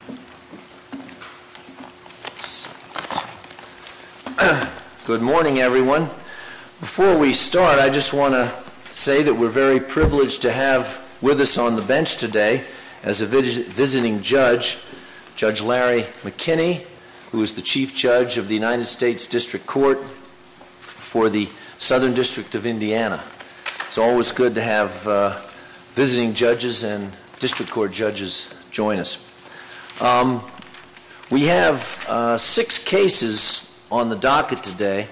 District Court. Good morning, everyone. Before we start, I just want to say that we're very privileged to have with us on the bench today as a visiting judge, Judge Larry McKinney, who is the Chief Judge of the United States District Court for the Southern District of Indiana. It's always good to have visiting judges and district court judges join us. We have six cases on the docket today.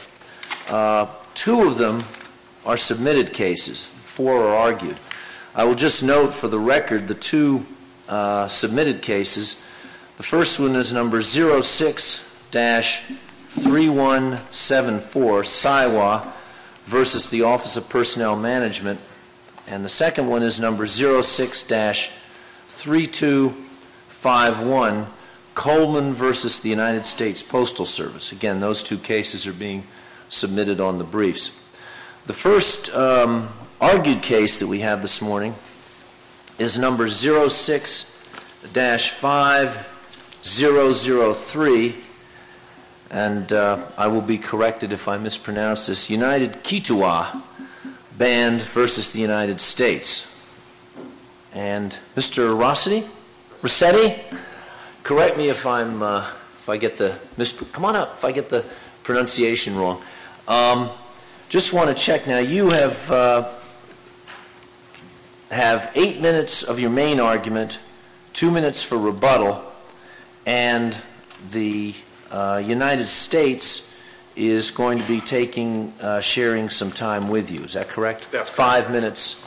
Two of them are submitted cases. Four are argued. I will just note for the record the two submitted cases. The first one is number 06-3174, Siwa v. the Office of Personnel Management. And the second one is number 06-3251, Coleman v. the United States Postal Service. Again, those two cases are being submitted on the briefs. The first argued case that we have this morning is number 06-5003, and I will be corrected if I mispronounce this, United Keetoowah Band v. the United States. And Mr. Rossetti, correct me if I get the mispronunciation wrong. I just want to check. Now, you have eight minutes of your main argument, two minutes for rebuttal, and the United States is going to be sharing some time with you. Is that correct? That's five minutes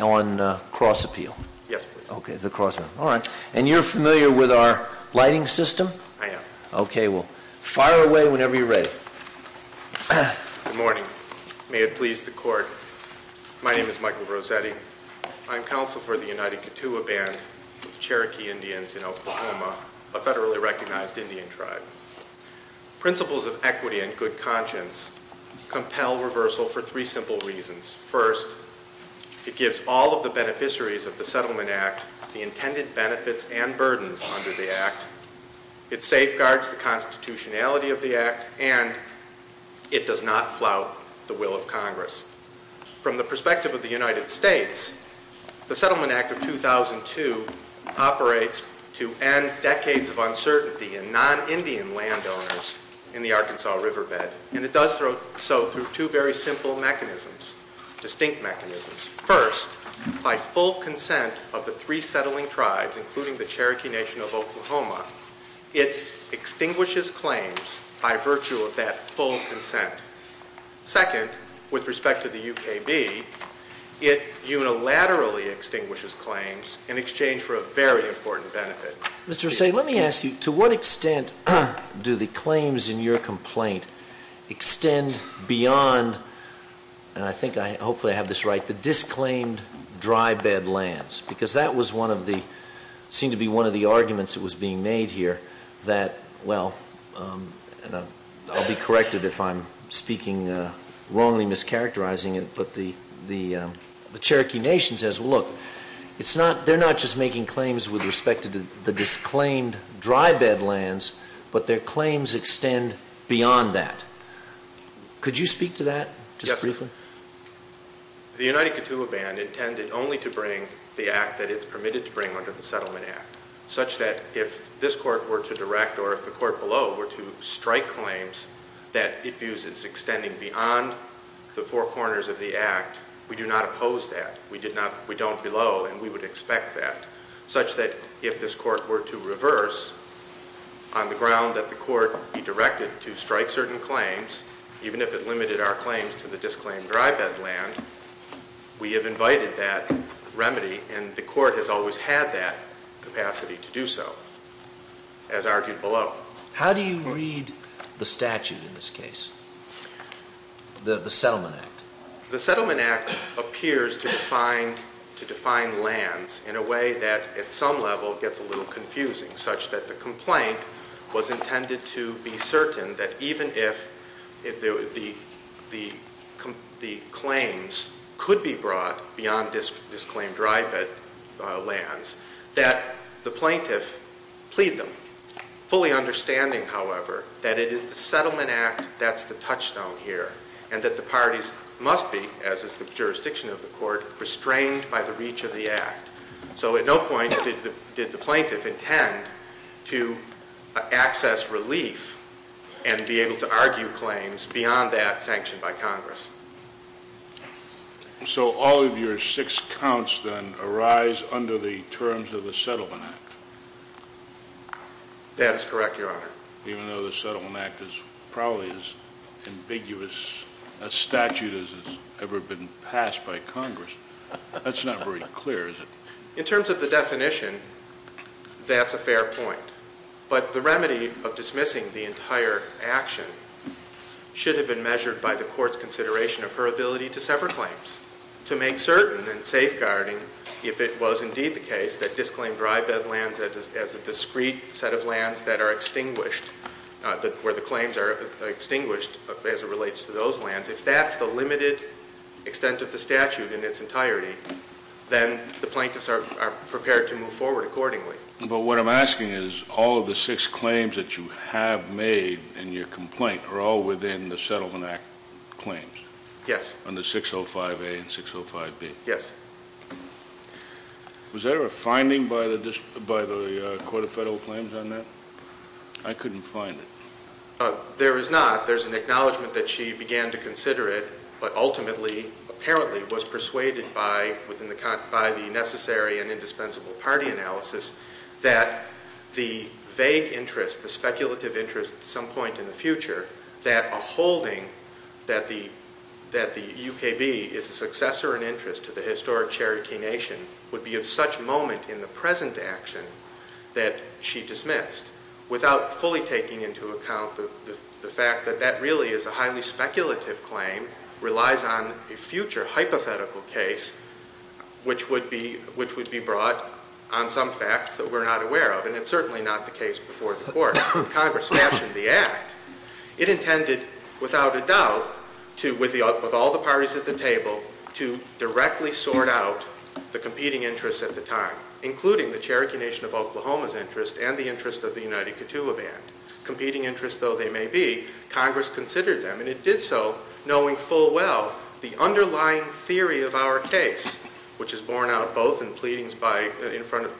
on cross-appeal. Yes, please. OK, the cross-appeal. All right. And you're familiar with our lighting system? I am. OK, well, fire away whenever you're ready. Good morning. May it please the court. My name is Michael Rossetti. I'm counsel for the United Keetoowah Band of Cherokee Indians in Oklahoma, a federally recognized Indian tribe. Principles of equity and good conscience compel reversal for three simple reasons. First, it gives all of the beneficiaries of the Settlement Act the intended benefits and burdens under the act. It safeguards the constitutionality of the act, and it does not flout the will of Congress. From the perspective of the United States, the Settlement Act of 2002 operates to end decades of uncertainty in non-Indian landowners in the Arkansas Riverbed. And it does so through two very simple mechanisms, distinct mechanisms. First, by full consent of the three settling tribes, including the Cherokee Nation of Oklahoma, it extinguishes claims by virtue of that full consent. Second, with respect to the UKB, it unilaterally extinguishes claims in exchange for a very important benefit. Mr. Hussain, let me ask you, to what extent do the claims in your complaint extend beyond, and I think hopefully I have this right, the disclaimed dry bed lands? Because that was one of the, seemed to be one of the arguments that was being made here that, well, I'll be corrected if I'm speaking wrongly, mischaracterizing it. But the Cherokee Nation says, well, look, they're not just making claims with respect to the disclaimed dry bed lands, but their claims extend beyond that. Could you speak to that just briefly? Yes, sir. The United Kituwa Band intended only to bring the act that it's permitted to bring under the Settlement Act, such that if this court were to direct or if the court below were to strike claims that it views as extending beyond the four corners of the act, we do not oppose that. We don't below, and we would expect that. Such that if this court were to reverse on the ground that the court be directed to strike certain claims, even if it limited our claims to the disclaimed dry bed land, we have invited that remedy. And the court has always had that capacity to do so, as argued below. How do you read the statute in this case, the Settlement Act? The Settlement Act appears to define lands in a way that at some level gets a little confusing. Such that the complaint was intended to be certain that even if the claims could be brought beyond disclaimed dry bed lands, that the plaintiff plead them, fully understanding, however, that it is the Settlement Act that's the touchstone here. And that the parties must be, as is the jurisdiction of the court, restrained by the reach of the act. So at no point did the plaintiff intend to access relief and be able to argue claims beyond that sanctioned by Congress. So all of your six counts then arise under the terms of the Settlement Act? That is correct, Your Honor. Even though the Settlement Act is probably as ambiguous a statute as has ever been passed by Congress. That's not very clear, is it? In terms of the definition, that's a fair point. But the remedy of dismissing the entire action should have been measured by the court's consideration of her ability to sever claims. To make certain and safeguarding if it was indeed the case that disclaimed dry bed lands as a discreet set of lands that are extinguished. Where the claims are extinguished as it relates to those lands. If that's the limited extent of the statute in its entirety, then the plaintiffs are prepared to move forward accordingly. But what I'm asking is, all of the six claims that you have made in your complaint are all within the Settlement Act claims? Yes. On the 605A and 605B? Yes. Was there a finding by the Court of Federal Claims on that? I couldn't find it. There is not. There's an acknowledgment that she began to consider it, but ultimately, apparently, was persuaded by the necessary and indispensable party analysis. That the vague interest, the speculative interest at some point in the future, that a holding that the UKB is a successor in interest to the historic Cherokee Nation, would be of such moment in the present action that she dismissed. Without fully taking into account the fact that that really is a highly speculative claim, relies on a future hypothetical case, which would be brought on some facts that we're not aware of. And it's certainly not the case before the court. Congress fashioned the act. It intended, without a doubt, with all the parties at the table, to directly sort out the competing interests at the time, including the Cherokee Nation of Oklahoma's interest and the interest of the United Kituwa Band. Competing interests, though they may be, Congress considered them, and it did so knowing full well the underlying theory of our case, which is borne out both in pleadings by, in front of,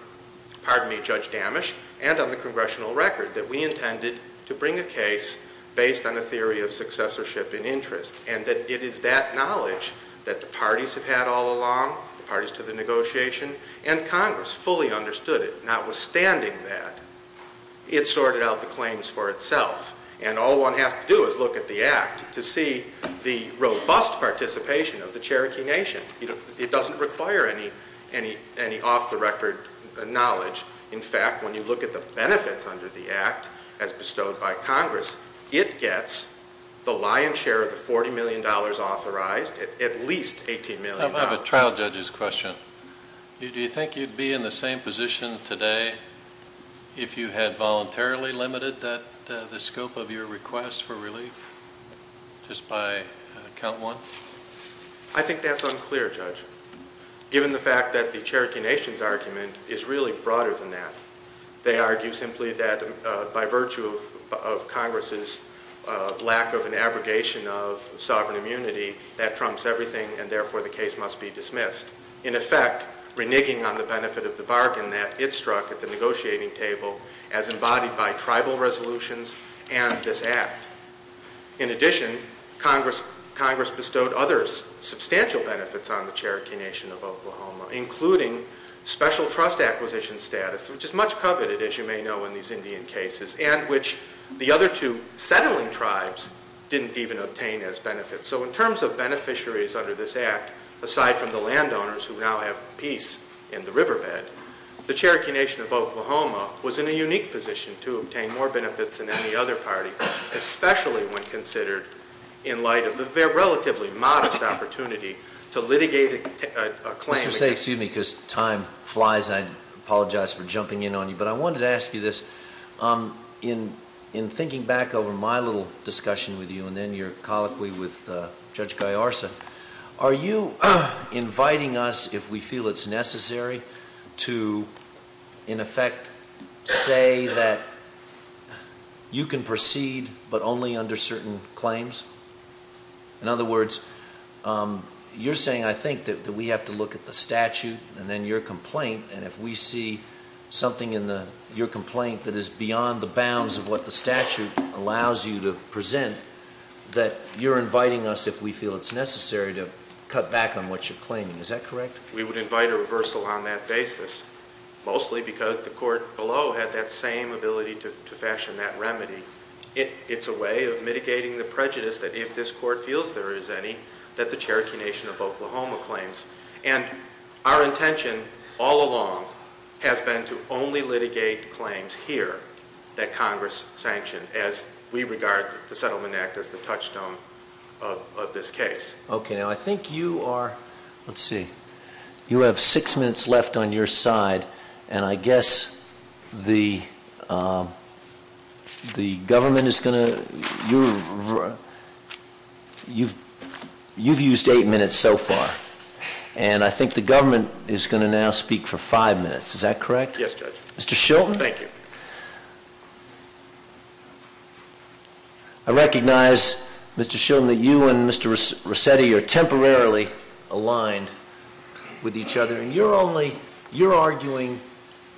pardon me, Judge Dammisch, and on the congressional record, that we intended to bring a case based on a theory of successorship in interest. And that it is that knowledge that the parties have had all along, the parties to the negotiation, and Congress fully understood it. Notwithstanding that, it sorted out the claims for itself. And all one has to do is look at the act to see the robust participation of the Cherokee Nation. It doesn't require any off the record knowledge. In fact, when you look at the benefits under the act, as bestowed by Congress, it gets the lion's share of the $40 million authorized, at least $18 million. I have a trial judge's question. Do you think you'd be in the same position today if you had voluntarily limited the scope of your request for relief, just by count one? I think that's unclear, Judge. Given the fact that the Cherokee Nation's argument is really broader than that. They argue simply that by virtue of Congress's lack of an abrogation of sovereign immunity, that trumps everything, and therefore the case must be dismissed. In effect, reneging on the benefit of the bargain that it struck at the negotiating table, as embodied by tribal resolutions and this act. In addition, Congress bestowed others substantial benefits on the Cherokee Nation of Oklahoma, including special trust acquisition status, which is much coveted, as you may know, in these Indian cases, and which the other two settling tribes didn't even obtain as benefits. So in terms of beneficiaries under this act, aside from the landowners who now have peace in the riverbed, the Cherokee Nation of Oklahoma was in a unique position to obtain more benefits than any other party, especially when considered in light of their relatively modest opportunity to litigate a claim. Excuse me, because time flies, and I apologize for jumping in on you. But I wanted to ask you this, in thinking back over my little discussion with you, and then your colloquy with Judge Gallarza, are you inviting us, if we feel it's necessary, to, in effect, say that you can proceed, but only under certain claims? In other words, you're saying, I think, that we have to look at the statute, and then your complaint. And if we see something in your complaint that is beyond the bounds of what the statute allows you to present, that you're inviting us, if we feel it's necessary, to cut back on what you're claiming. Is that correct? We would invite a reversal on that basis, mostly because the court below had that same ability to fashion that remedy. It's a way of mitigating the prejudice that if this court feels there is any, that the Cherokee Nation of Oklahoma claims. And our intention all along has been to only litigate claims here that Congress sanctioned, as we regard the Settlement Act as the touchstone of this case. Okay, now I think you are, let's see, you have six minutes left on your side. And I guess the government is going to, you've used eight minutes so far, and I think the government is going to now speak for five minutes. Is that correct? Yes, Judge. Mr. Shilton? Thank you. I recognize, Mr. Shilton, that you and Mr. Rossetti are temporarily aligned with each other. And you're only, you're arguing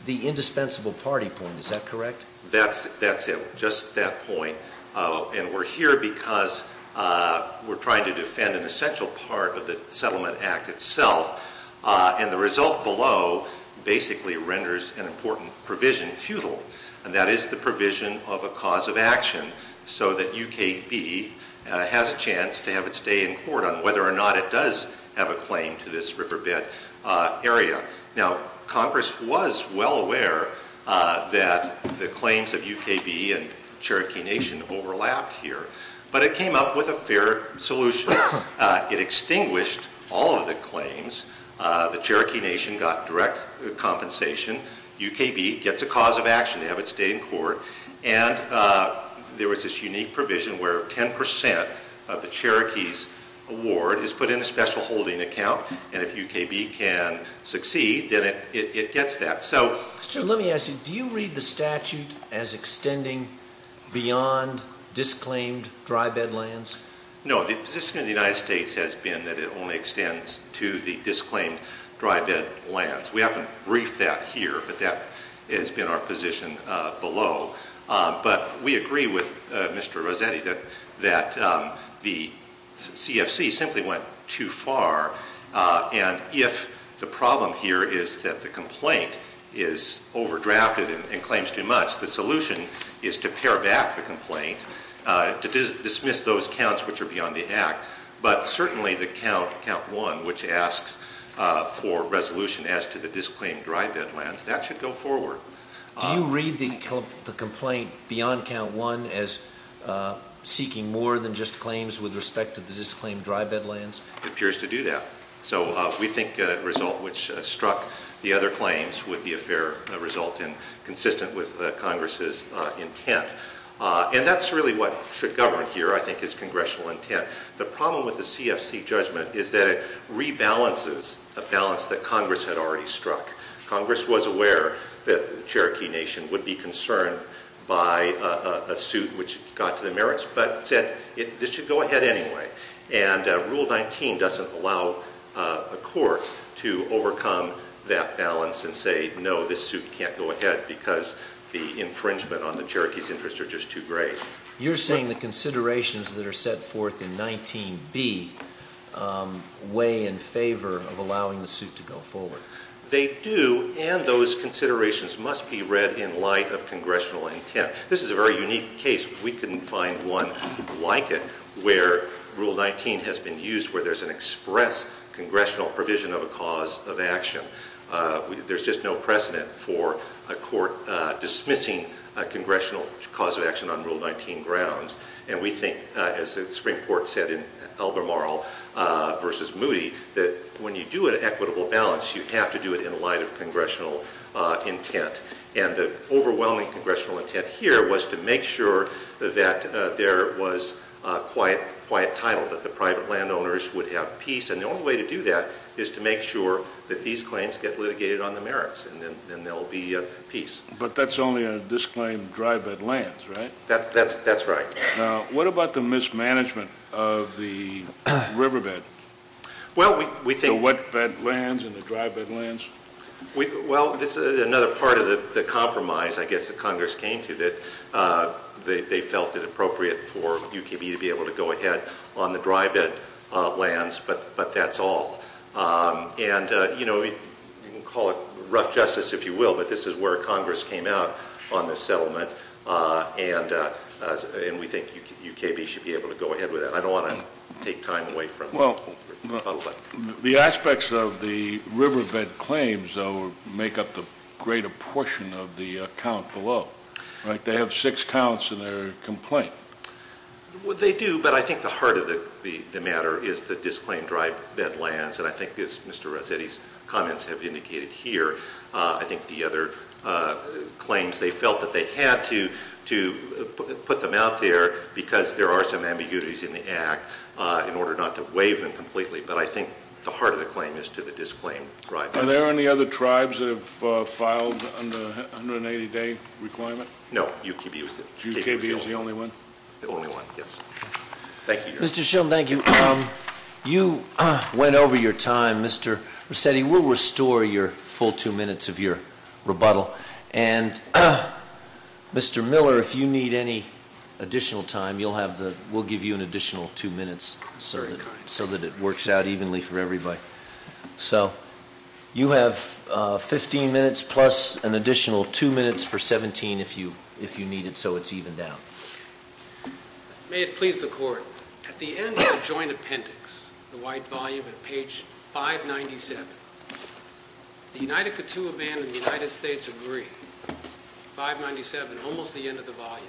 the indispensable party point, is that correct? That's it, just that point. And we're here because we're trying to defend an essential part of the Settlement Act itself. And the result below basically renders an important provision futile. And that is the provision of a cause of action, so that UKB has a chance to have it stay in court on whether or not it does have a claim to this riverbed area. Now, Congress was well aware that the claims of UKB and Cherokee Nation overlapped here, but it came up with a fair solution. It extinguished all of the claims, the Cherokee Nation got direct compensation. UKB gets a cause of action to have it stay in court. And there was this unique provision where 10% of the Cherokees award is put in a special holding account, and if UKB can succeed, then it gets that. So- So let me ask you, do you read the statute as extending beyond disclaimed dry bed lands? No, the position of the United States has been that it only extends to the disclaimed dry bed lands. We haven't briefed that here, but that has been our position below. But we agree with Mr. Rossetti that the CFC simply went too far. And if the problem here is that the complaint is overdrafted and claims too much, the solution is to pare back the complaint, to dismiss those counts which are beyond the act. But certainly the count one, which asks for resolution as to the disclaimed dry bed lands, that should go forward. Do you read the complaint beyond count one as seeking more than just claims with respect to the disclaimed dry bed lands? It appears to do that. So we think a result which struck the other claims would be a fair result and consistent with Congress's intent, and that's really what should govern here, I think, is congressional intent. The problem with the CFC judgment is that it rebalances a balance that Congress had already struck. Congress was aware that the Cherokee Nation would be concerned by a suit which got to the merits, but said this should go ahead anyway. And Rule 19 doesn't allow a court to overcome that balance and say no, this suit can't go ahead because the infringement on the Cherokee's interest are just too great. You're saying the considerations that are set forth in 19B weigh in favor of allowing the suit to go forward. They do, and those considerations must be read in light of congressional intent. This is a very unique case. We couldn't find one like it where Rule 19 has been used where there's an express congressional provision of a cause of action. There's just no precedent for a court dismissing a congressional cause of action on Rule 19 grounds. And we think, as Springport said in Albemarle versus Moody, that when you do an equitable balance, you have to do it in light of congressional intent. And the overwhelming congressional intent here was to make sure that there was quiet title, that the private landowners would have peace. And the only way to do that is to make sure that these claims get litigated on the merits, and then there'll be peace. But that's only on this claim, dry bed lands, right? That's right. Now, what about the mismanagement of the riverbed? Well, we think- The wet bed lands and the dry bed lands? Well, this is another part of the compromise, I guess, that Congress came to, that they felt it appropriate for UKB to be able to go ahead on the dry bed lands. But that's all. And you can call it rough justice, if you will, but this is where Congress came out on this settlement. And we think UKB should be able to go ahead with that. I don't want to take time away from- Well, the aspects of the riverbed claims, though, make up the greater portion of the account below, right? They have six counts in their complaint. Well, they do, but I think the heart of the matter is the disclaimed dry bed lands. And I think Mr. Rossetti's comments have indicated here. I think the other claims, they felt that they had to put them out there, because there are some ambiguities in the act, in order not to waive them completely. But I think the heart of the claim is to the disclaimed dry bed lands. Are there any other tribes that have filed under the 180 day requirement? No, UKB was the only one. The only one, yes. Thank you. Mr. Schill, thank you. You went over your time. Mr. Rossetti, we'll restore your full two minutes of your rebuttal. And Mr. Miller, if you need any additional time, we'll give you an additional two minutes, sir. So that it works out evenly for everybody. So you have 15 minutes plus an additional two minutes for 17 if you need it so it's evened out. May it please the court, at the end of the joint appendix, the white volume at page 597, the United Kituwa Band of the United States agree, 597, almost the end of the volume,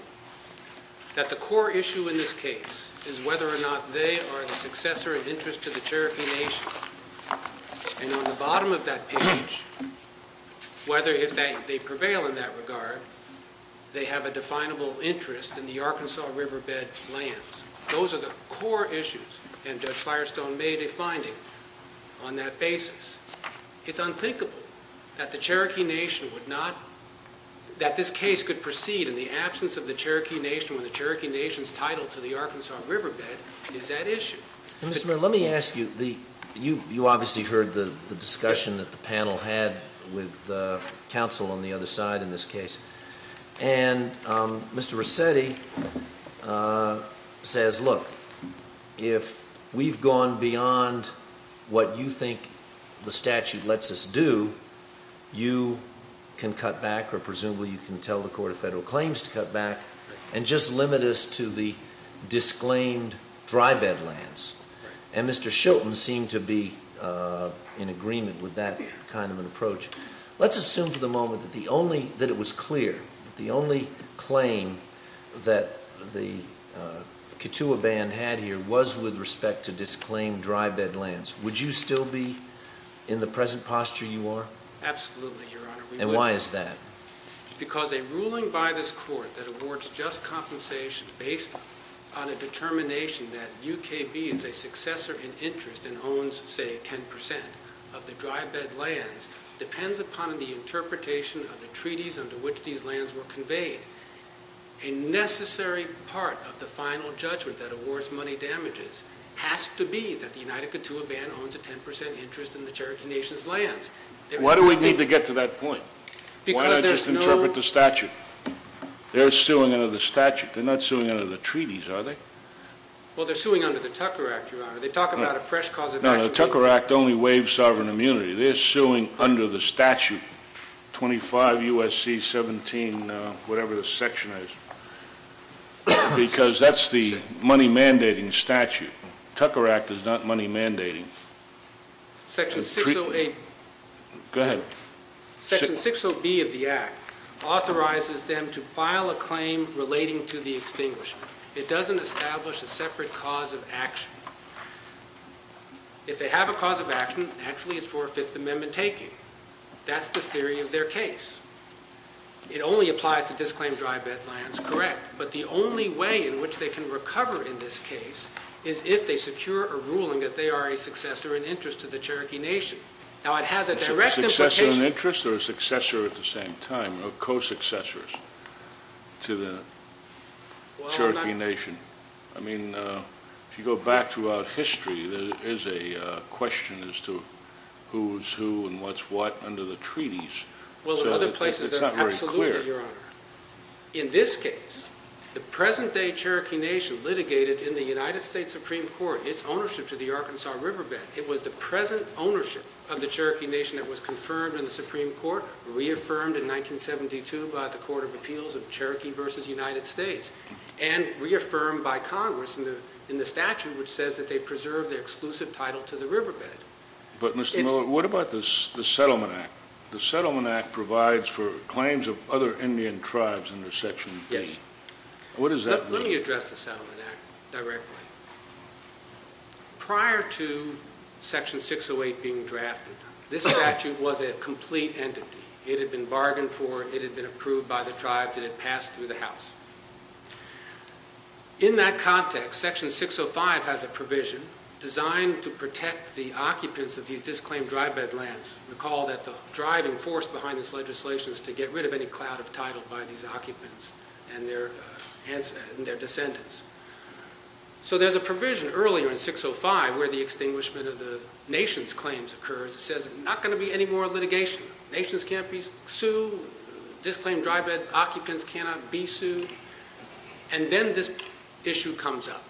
that the core issue in this case is whether or not they are the successor of interest to the Cherokee Nation. And on the bottom of that page, whether if they prevail in that regard, they have a definable interest in the Arkansas Riverbed lands. Those are the core issues, and Judge Firestone made a finding on that basis. It's unthinkable that the Cherokee Nation would not, that this case could proceed in the absence of the Cherokee Nation when the Cherokee Nation's title to the Arkansas Riverbed is at issue. Mr. Mayor, let me ask you, you obviously heard the discussion that the panel had with council on the other side in this case, and Mr. Resetti says look, if we've gone beyond what you think the statute lets us do, you can cut back, or presumably you can tell the court of federal claims to cut back, and just limit us to the disclaimed dry bed lands. And Mr. Shilton seemed to be in agreement with that kind of an approach. Let's assume for the moment that it was clear, that the only claim that the Kituwa Band had here was with respect to disclaimed dry bed lands. Would you still be in the present posture you are? Absolutely, Your Honor. And why is that? Because a ruling by this court that awards just compensation based on a determination that UKB is a successor in interest and owns, say, 10% of the dry bed lands, depends upon the interpretation of the treaties under which these lands were conveyed. A necessary part of the final judgment that awards money damages has to be that the United Kituwa Band owns a 10% interest in the Cherokee Nation's lands. Why do we need to get to that point? Why not just interpret the statute? They're suing under the statute. They're not suing under the treaties, are they? Well, they're suing under the Tucker Act, Your Honor. They talk about a fresh cause of action. No, the Tucker Act only waives sovereign immunity. They're suing under the statute 25 USC 17, whatever the section is. Because that's the money mandating statute. Tucker Act is not money mandating. Section 608. Go ahead. Section 60B of the act authorizes them to file a claim relating to the extinguishment. It doesn't establish a separate cause of action. If they have a cause of action, naturally it's for a fifth amendment taking. That's the theory of their case. It only applies to disclaimed dry bed lands, correct. But the only way in which they can recover in this case is if they secure a ruling that they are a successor in interest to the Cherokee Nation. Now, it has a direct implication. A successor in interest or a successor at the same time, or co-successors to the Cherokee Nation? I mean, if you go back throughout history, there is a question as to who's who and what's what under the treaties. Well, there are other places that are absolutely, Your Honor. In this case, the present day Cherokee Nation litigated in the United States Supreme Court its ownership to the Arkansas Riverbed. It was the present ownership of the Cherokee Nation that was confirmed in the Supreme Court, reaffirmed in 1972 by the Court of Appeals of Cherokee versus United States, and reaffirmed by Congress in the statute, which says that they preserve their exclusive title to the riverbed. But Mr. Miller, what about the Settlement Act? The Settlement Act provides for claims of other Indian tribes under Section 8. Yes. What does that mean? Let me address the Settlement Act directly. Prior to Section 608 being drafted, this statute was a complete entity. It had been bargained for. It had been approved by the tribes. It had passed through the House. In that context, Section 605 has a provision designed to protect the occupants of these disclaimed drive bed lands. Recall that the driving force behind this legislation is to get rid of any cloud of title by these occupants and their descendants. So there's a provision earlier in 605 where the extinguishment of the nation's claims occurs. It says, not going to be any more litigation. Nations can't be sued. Disclaimed drive bed occupants cannot be sued. And then this issue comes up.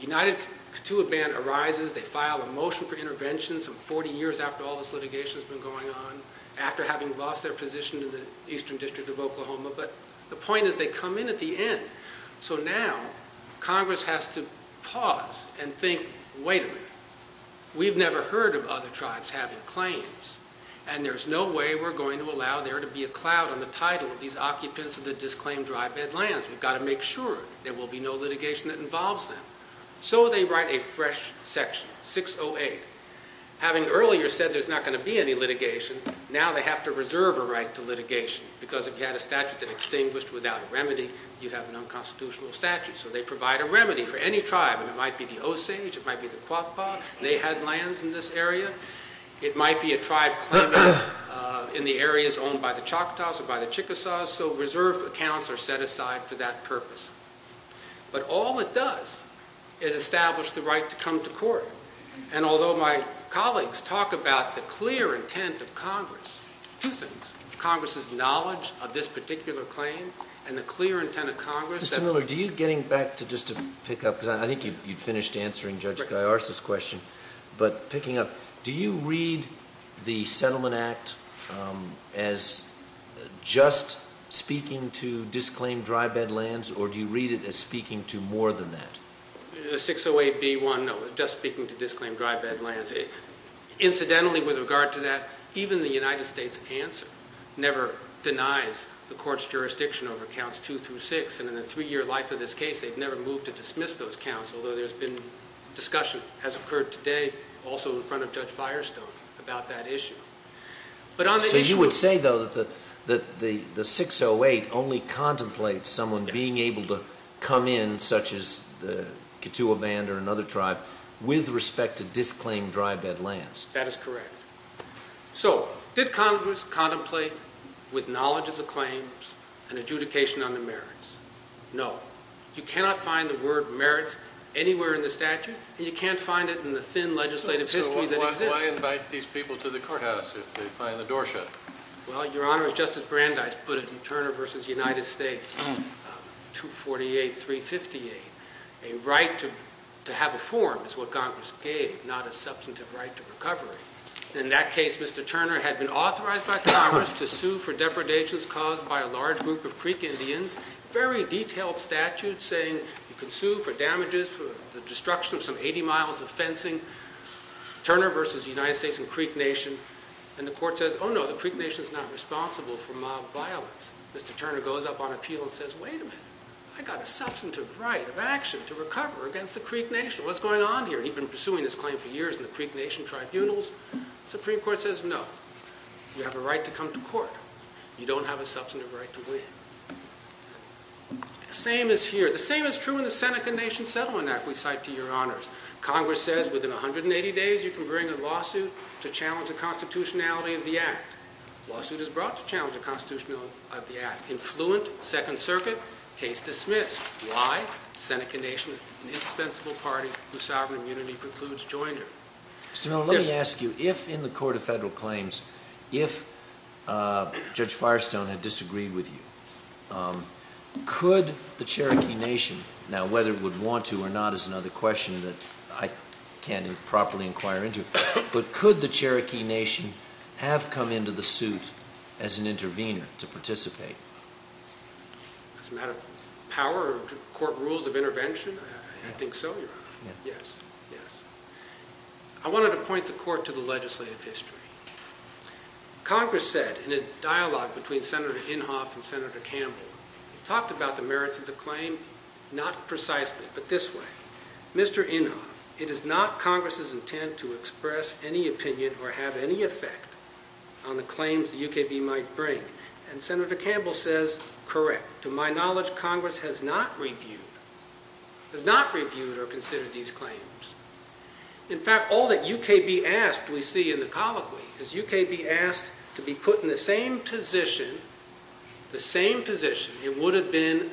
United to a ban arises. They file a motion for intervention some 40 years after all this litigation has been going on, after having lost their position in the Eastern District of Oklahoma. But the point is they come in at the end. So now Congress has to pause and think, wait a minute. We've never heard of other tribes having claims. And there's no way we're going to allow there to be a cloud on the title of these occupants of the disclaimed drive bed lands. We've got to make sure there will be no litigation that involves them. So they write a fresh section, 608. Having earlier said there's not going to be any litigation, now they have to reserve a right to litigation. Because if you had a statute that extinguished without a remedy, you'd have an unconstitutional statute. So they provide a remedy for any tribe. And it might be the Osage. It might be the Quapaw. They had lands in this area. It might be a tribe claimant in the areas owned by the Choctaws or by the Chickasaws. So reserve accounts are set aside for that purpose. But all it does is establish the right to come to court. And although my colleagues talk about the clear intent of Congress, two things, Congress's knowledge of this particular claim and the clear intent of Congress. Mr. Miller, do you, getting back to just to pick up, because I think you'd finished answering Judge Guyarza's question. But picking up, do you read the Settlement Act as just speaking to disclaimed dry bed lands? Or do you read it as speaking to more than that? The 608B1, no, just speaking to disclaimed dry bed lands. Incidentally, with regard to that, even the United States answer never denies the court's jurisdiction over counts two through six. And in the three-year life of this case, they've never moved to dismiss those counts, although there's been discussion, as occurred today, also in front of Judge Firestone about that issue. But on the issue of- So you would say, though, that the 608 only contemplates someone being able to come in, such as the Kituwa Band or another tribe, with respect to disclaimed dry bed lands? That is correct. So did Congress contemplate, with knowledge of the claims, an adjudication on the merits? No. You cannot find the word merits anywhere in the statute, and you can't find it in the thin legislative history that exists. So why invite these people to the courthouse if they find the door shut? Well, Your Honor, as Justice Brandeis put it in Turner v. United States, 248, 358, a right to have a form is what Congress gave, not a substantive right to recovery. In that case, Mr. Turner had been authorized by Congress to sue for depredations caused by a large group of Creek Indians. Very detailed statute saying you can sue for damages, for the destruction of some 80 miles of fencing. Turner v. United States and Creek Nation. And the court says, no, the Creek Nation's not responsible for mob violence. Mr. Turner goes up on appeal and says, wait a minute. I got a substantive right of action to recover against the Creek Nation. What's going on here? He'd been pursuing this claim for years in the Creek Nation tribunals. Supreme Court says, no, you have a right to come to court. You don't have a substantive right to win. The same is here. The same is true in the Seneca Nation Settlement Act we cite to your honors. Congress says within 180 days you can bring a lawsuit to challenge the constitutionality of the act. Lawsuit is brought to challenge the constitutionality of the act. Influent, Second Circuit, case dismissed. Why? Seneca Nation is an indispensable party whose sovereign immunity precludes joinder. Mr. Miller, let me ask you, if in the court of federal claims, if Judge Firestone had disagreed with you, could the Cherokee Nation, now whether it would want to or not is another question that I can't properly inquire into, but could the Cherokee Nation have come into the suit as an intervener to participate? As a matter of power or court rules of intervention, I think so, your honor. Yes, yes. I wanted to point the court to the legislative history. Congress said in a dialogue between Senator Inhofe and Senator Campbell, talked about the merits of the claim, not precisely, but this way. Mr. Inhofe, it is not Congress's intent to express any opinion or have any effect on the claims the UKB might bring. And Senator Campbell says, correct. To my knowledge, Congress has not reviewed or considered these claims. In fact, all that UKB asked, we see in the colloquy, is UKB asked to be put in the same position, the same position it would have been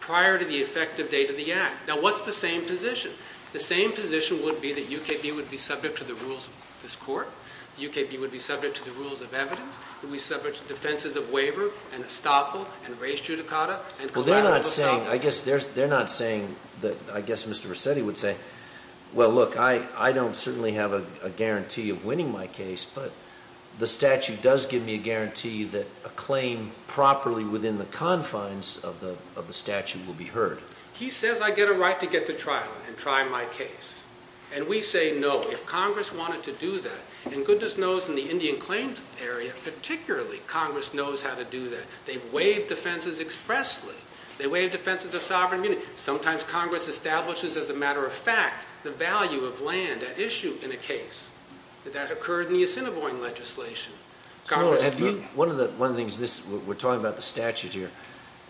prior to the effective date of the act. Now, what's the same position? The same position would be that UKB would be subject to the rules of this court. UKB would be subject to the rules of evidence. We subject to defenses of waiver, and estoppel, and res judicata, and collateral- Well, they're not saying, I guess they're not saying that, I guess Mr. Rossetti would say, well, look, I don't certainly have a guarantee of winning my case, but the statute does give me a guarantee that a claim properly within the confines of the statute will be heard. He says I get a right to get to trial and try my case. And we say no, if Congress wanted to do that, and goodness knows in the Indian claims area, particularly, Congress knows how to do that. They waive defenses expressly. They waive defenses of sovereign immunity. Sometimes Congress establishes, as a matter of fact, the value of land at issue in a case. That occurred in the Assiniboine legislation. Congress- One of the things, we're talking about the statute here.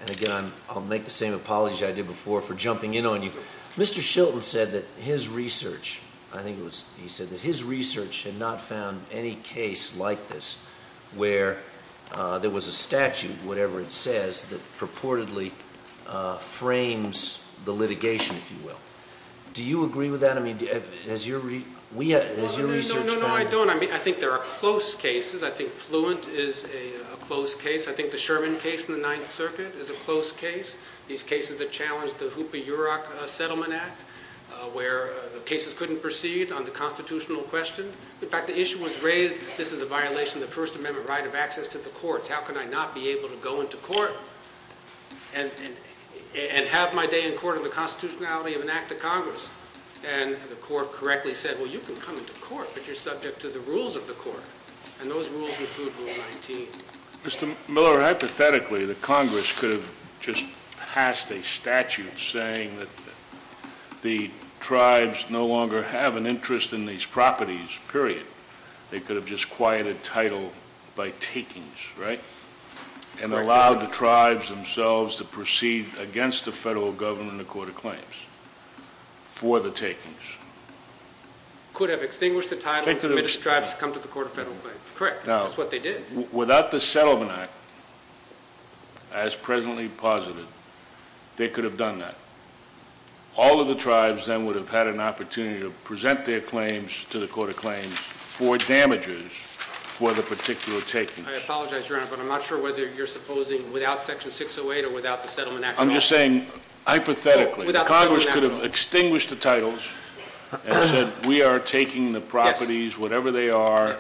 And again, I'll make the same apology I did before for jumping in on you. Mr. Shelton said that his research, I think it was, he said that his research had not found any case like this where there was a statute, whatever it says, that purportedly frames the litigation, if you will. Do you agree with that? I mean, has your research found- No, no, no, I don't. I mean, I think there are close cases. I think Fluent is a close case. I think the Sherman case from the Ninth Circuit is a close case. These cases that challenged the Hoopa-Urock Settlement Act, where the constitutional question, in fact, the issue was raised, this is a violation of the First Amendment right of access to the courts. How can I not be able to go into court and have my day in court in the constitutionality of an act of Congress? And the court correctly said, well, you can come into court, but you're subject to the rules of the court. And those rules include Rule 19. Mr. Miller, hypothetically, the Congress could have just passed a statute saying that the tribes no longer have an interest in these properties, period. They could have just quieted title by takings, right? And allowed the tribes themselves to proceed against the federal government in the court of claims for the takings. Could have extinguished the title- They could have- And made the tribes come to the court of federal claims. Correct, that's what they did. Without the settlement act, as presently posited, they could have done that. All of the tribes then would have had an opportunity to present their claims to the court of claims for damages for the particular takings. I apologize, Your Honor, but I'm not sure whether you're supposing without section 608 or without the settlement act- I'm just saying, hypothetically, Congress could have extinguished the titles and said we are taking the properties, whatever they are,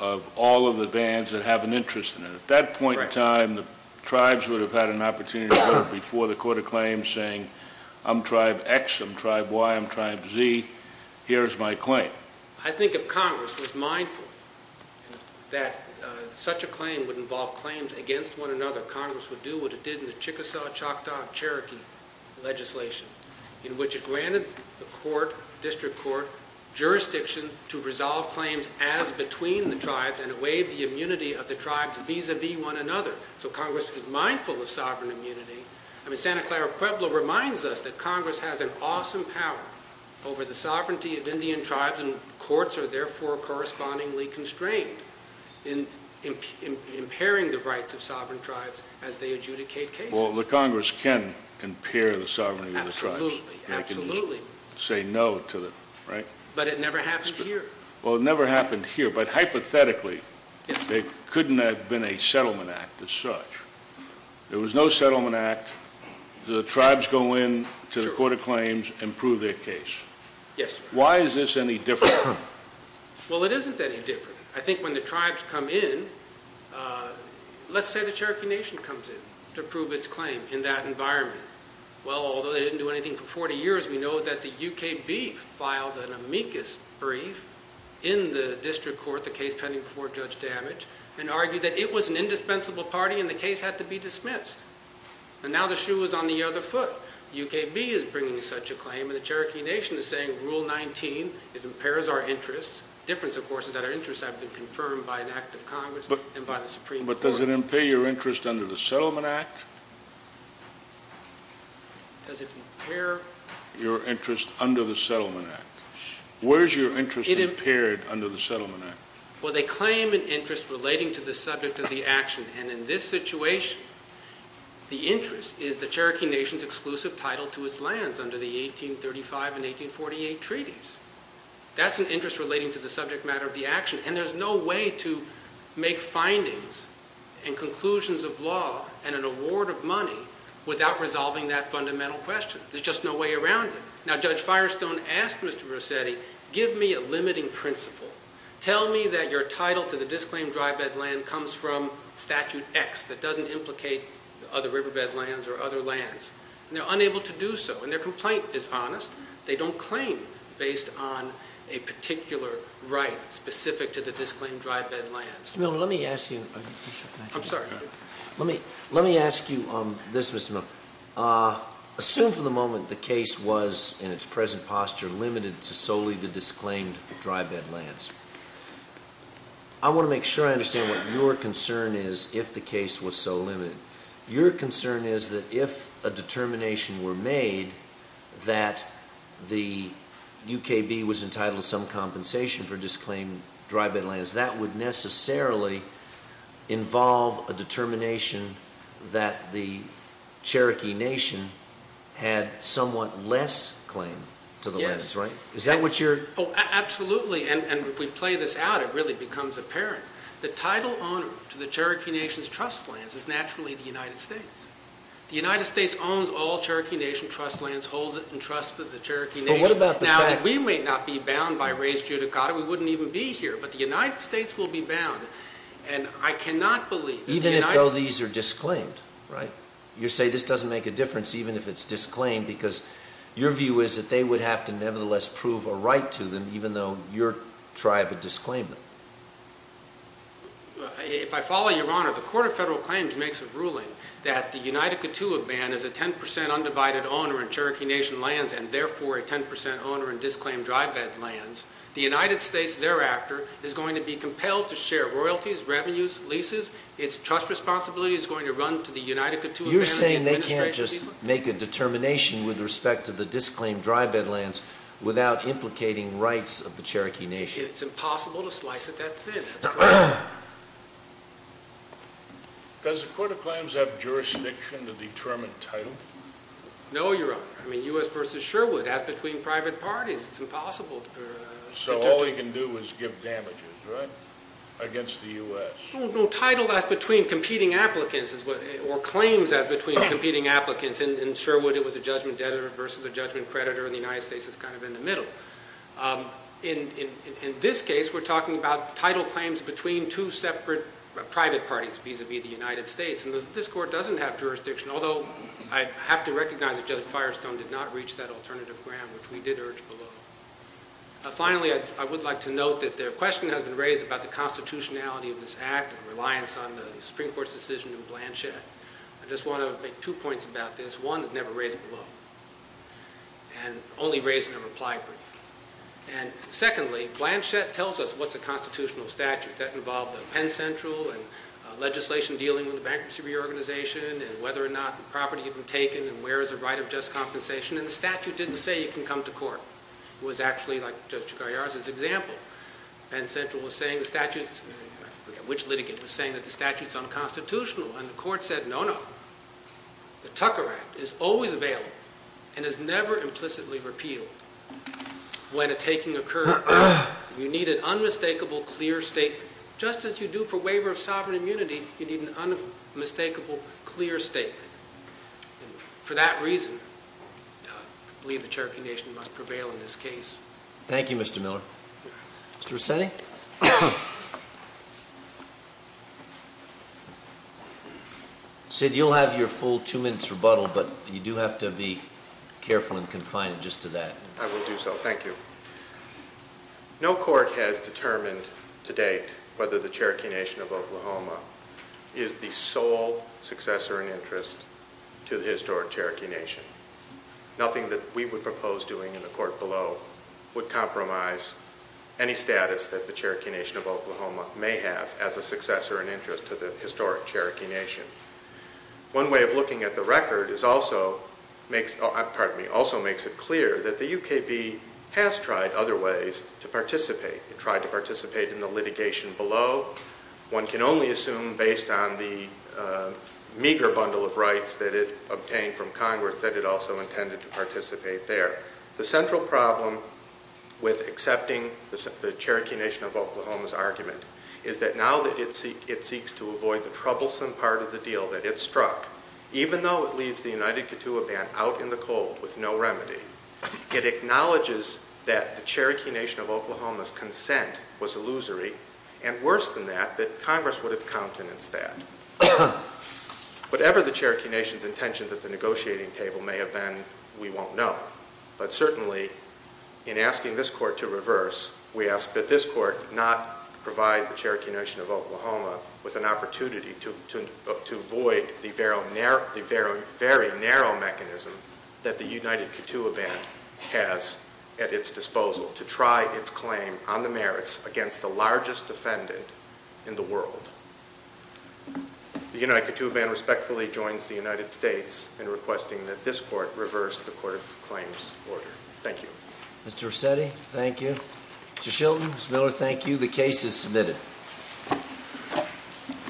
of all of the bands that have an interest in it. At that point in time, the tribes would have had an opportunity to go before the court of claims saying, I'm tribe X, I'm tribe Y, I'm tribe Z, here's my claim. I think if Congress was mindful that such a claim would involve claims against one another, Congress would do what it did in the Chickasaw, Choctaw, Cherokee legislation. In which it granted the court, district court, jurisdiction to resolve claims as between the tribes and waive the immunity of the tribes vis-a-vis one another. So Congress is mindful of sovereign immunity. I mean, Santa Clara Pueblo reminds us that Congress has an awesome power over the sovereignty of Indian tribes and courts are therefore correspondingly constrained in impairing the rights of sovereign tribes as they adjudicate cases. Well, the Congress can impair the sovereignty of the tribes. Absolutely, absolutely. Say no to them, right? But it never happened here. Well, it never happened here, but hypothetically, it couldn't have been a settlement act as such. There was no settlement act. The tribes go in to the court of claims and prove their case. Yes. Why is this any different? Well, it isn't any different. I think when the tribes come in, let's say the Cherokee Nation comes in to prove its claim in that environment. Well, although they didn't do anything for 40 years, we know that the UKB filed an amicus brief in the district court, the case pending before Judge Damage, and argued that it was an indispensable party in the case had to be dismissed. And now the shoe is on the other foot. UKB is bringing such a claim and the Cherokee Nation is saying, Rule 19, it impairs our interests. Difference, of course, is that our interests have been confirmed by an act of Congress and by the Supreme Court. But does it impair your interest under the Settlement Act? Does it impair your interest under the Settlement Act? Where is your interest impaired under the Settlement Act? Well, they claim an interest relating to the subject of the action. And in this situation, the interest is the Cherokee Nation's exclusive title to its lands under the 1835 and 1848 treaties. That's an interest relating to the subject matter of the action. And there's no way to make findings and conclusions of law and an award of money without resolving that fundamental question. There's just no way around it. Now, Judge Firestone asked Mr. Rossetti, give me a limiting principle. Tell me that your title to the disclaimed dry bed land comes from statute X that doesn't implicate other riverbed lands or other lands. And they're unable to do so. And their complaint is honest. They don't claim based on a particular right specific to the disclaimed dry bed lands. Let me ask you, I'm sorry, let me ask you this, Mr. Miller. Assume for the moment the case was in its present posture limited to solely the disclaimed dry bed lands. I want to make sure I understand what your concern is if the case was so limited. Your concern is that if a determination were made that the UKB was entitled to some compensation for disclaimed dry bed lands, that would necessarily involve a determination that the Cherokee Nation had somewhat less claim to the lands, right? Is that what you're- Absolutely, and if we play this out, it really becomes apparent. The title owner to the Cherokee Nation's trust lands is naturally the United States. The United States owns all Cherokee Nation trust lands, holds it in trust with the Cherokee Nation. But what about the fact- Now, we may not be bound by raised judicata, we wouldn't even be here. But the United States will be bound, and I cannot believe- Even if all these are disclaimed, right? You say this doesn't make a difference even if it's disclaimed, because your view is that they would have to nevertheless prove a right to them, even though your tribe would disclaim them. If I follow your honor, the Court of Federal Claims makes a ruling that the United Kituwaban is a 10% undivided owner in Cherokee Nation lands, and therefore a 10% owner in disclaimed dry bed lands. The United States thereafter is going to be compelled to share royalties, revenues, leases. Its trust responsibility is going to run to the United Kituwaban- You're saying they can't just make a determination with respect to the disclaimed dry bed lands without implicating rights of the Cherokee Nation? It's impossible to slice it that thin, that's why. Does the Court of Claims have jurisdiction to determine title? No, your honor. I mean, U.S. versus Sherwood. As between private parties, it's impossible. So all we can do is give damages, right? Against the U.S. No, no, title that's between competing applicants, or claims as between competing applicants. In Sherwood, it was a judgment debtor versus a judgment creditor, and the United States is kind of in the middle. In this case, we're talking about title claims between two separate private parties, vis-a-vis the United States. And this court doesn't have jurisdiction, although I have to recognize that Judge Firestone did not reach that alternative ground, which we did urge below. Finally, I would like to note that the question has been raised about the constitutionality of this act and reliance on the Supreme Court's decision in Blanchett. I just want to make two points about this. One is never raised below, and only raised in a reply brief. And secondly, Blanchett tells us what's the constitutional statute. In fact, that involved the Penn Central and legislation dealing with the bankruptcy reorganization, and whether or not the property had been taken, and where is the right of just compensation. And the statute didn't say you can come to court. It was actually, like Judge Chigaiyara's example, Penn Central was saying the statute, which litigant was saying that the statute's unconstitutional, and the court said no, no. The Tucker Act is always available and is never implicitly repealed. When a taking occurred, you need an unmistakable, clear statement. Just as you do for waiver of sovereign immunity, you need an unmistakable, clear statement. And for that reason, I believe the Cherokee Nation must prevail in this case. Thank you, Mr. Miller. Mr. Resetti? Sid, you'll have your full two minutes rebuttal, but you do have to be careful and confine it just to that. I will do so, thank you. No court has determined to date whether the Cherokee Nation of Oklahoma is the sole successor in interest to the historic Cherokee Nation. Nothing that we would propose doing in the court below would compromise any status that the Cherokee Nation of Oklahoma may have as a successor in interest to the historic Cherokee Nation. One way of looking at the record is also, pardon me, also makes it clear that the UKB has tried other ways to participate. It tried to participate in the litigation below. One can only assume based on the meager bundle of rights that it also intended to participate there. The central problem with accepting the Cherokee Nation of Oklahoma's argument is that now that it seeks to avoid the troublesome part of the deal that it struck, even though it leaves the United Kituwa Band out in the cold with no remedy, it acknowledges that the Cherokee Nation of Oklahoma's consent was illusory. And worse than that, that Congress would have countenanced that. Whatever the Cherokee Nation's intention that the negotiating table may have been, we won't know. But certainly, in asking this court to reverse, we ask that this court not provide the Cherokee Nation of Oklahoma with an opportunity to avoid the very narrow mechanism that the United Kituwa Band has at its disposal to try its claim on the merits against the largest defendant in the world. The United Kituwa Band respectfully joins the United States in requesting that this court reverse the court of claims order. Thank you. Mr. Rossetti, thank you. Mr. Shilton, Ms. Miller, thank you. The case is submitted.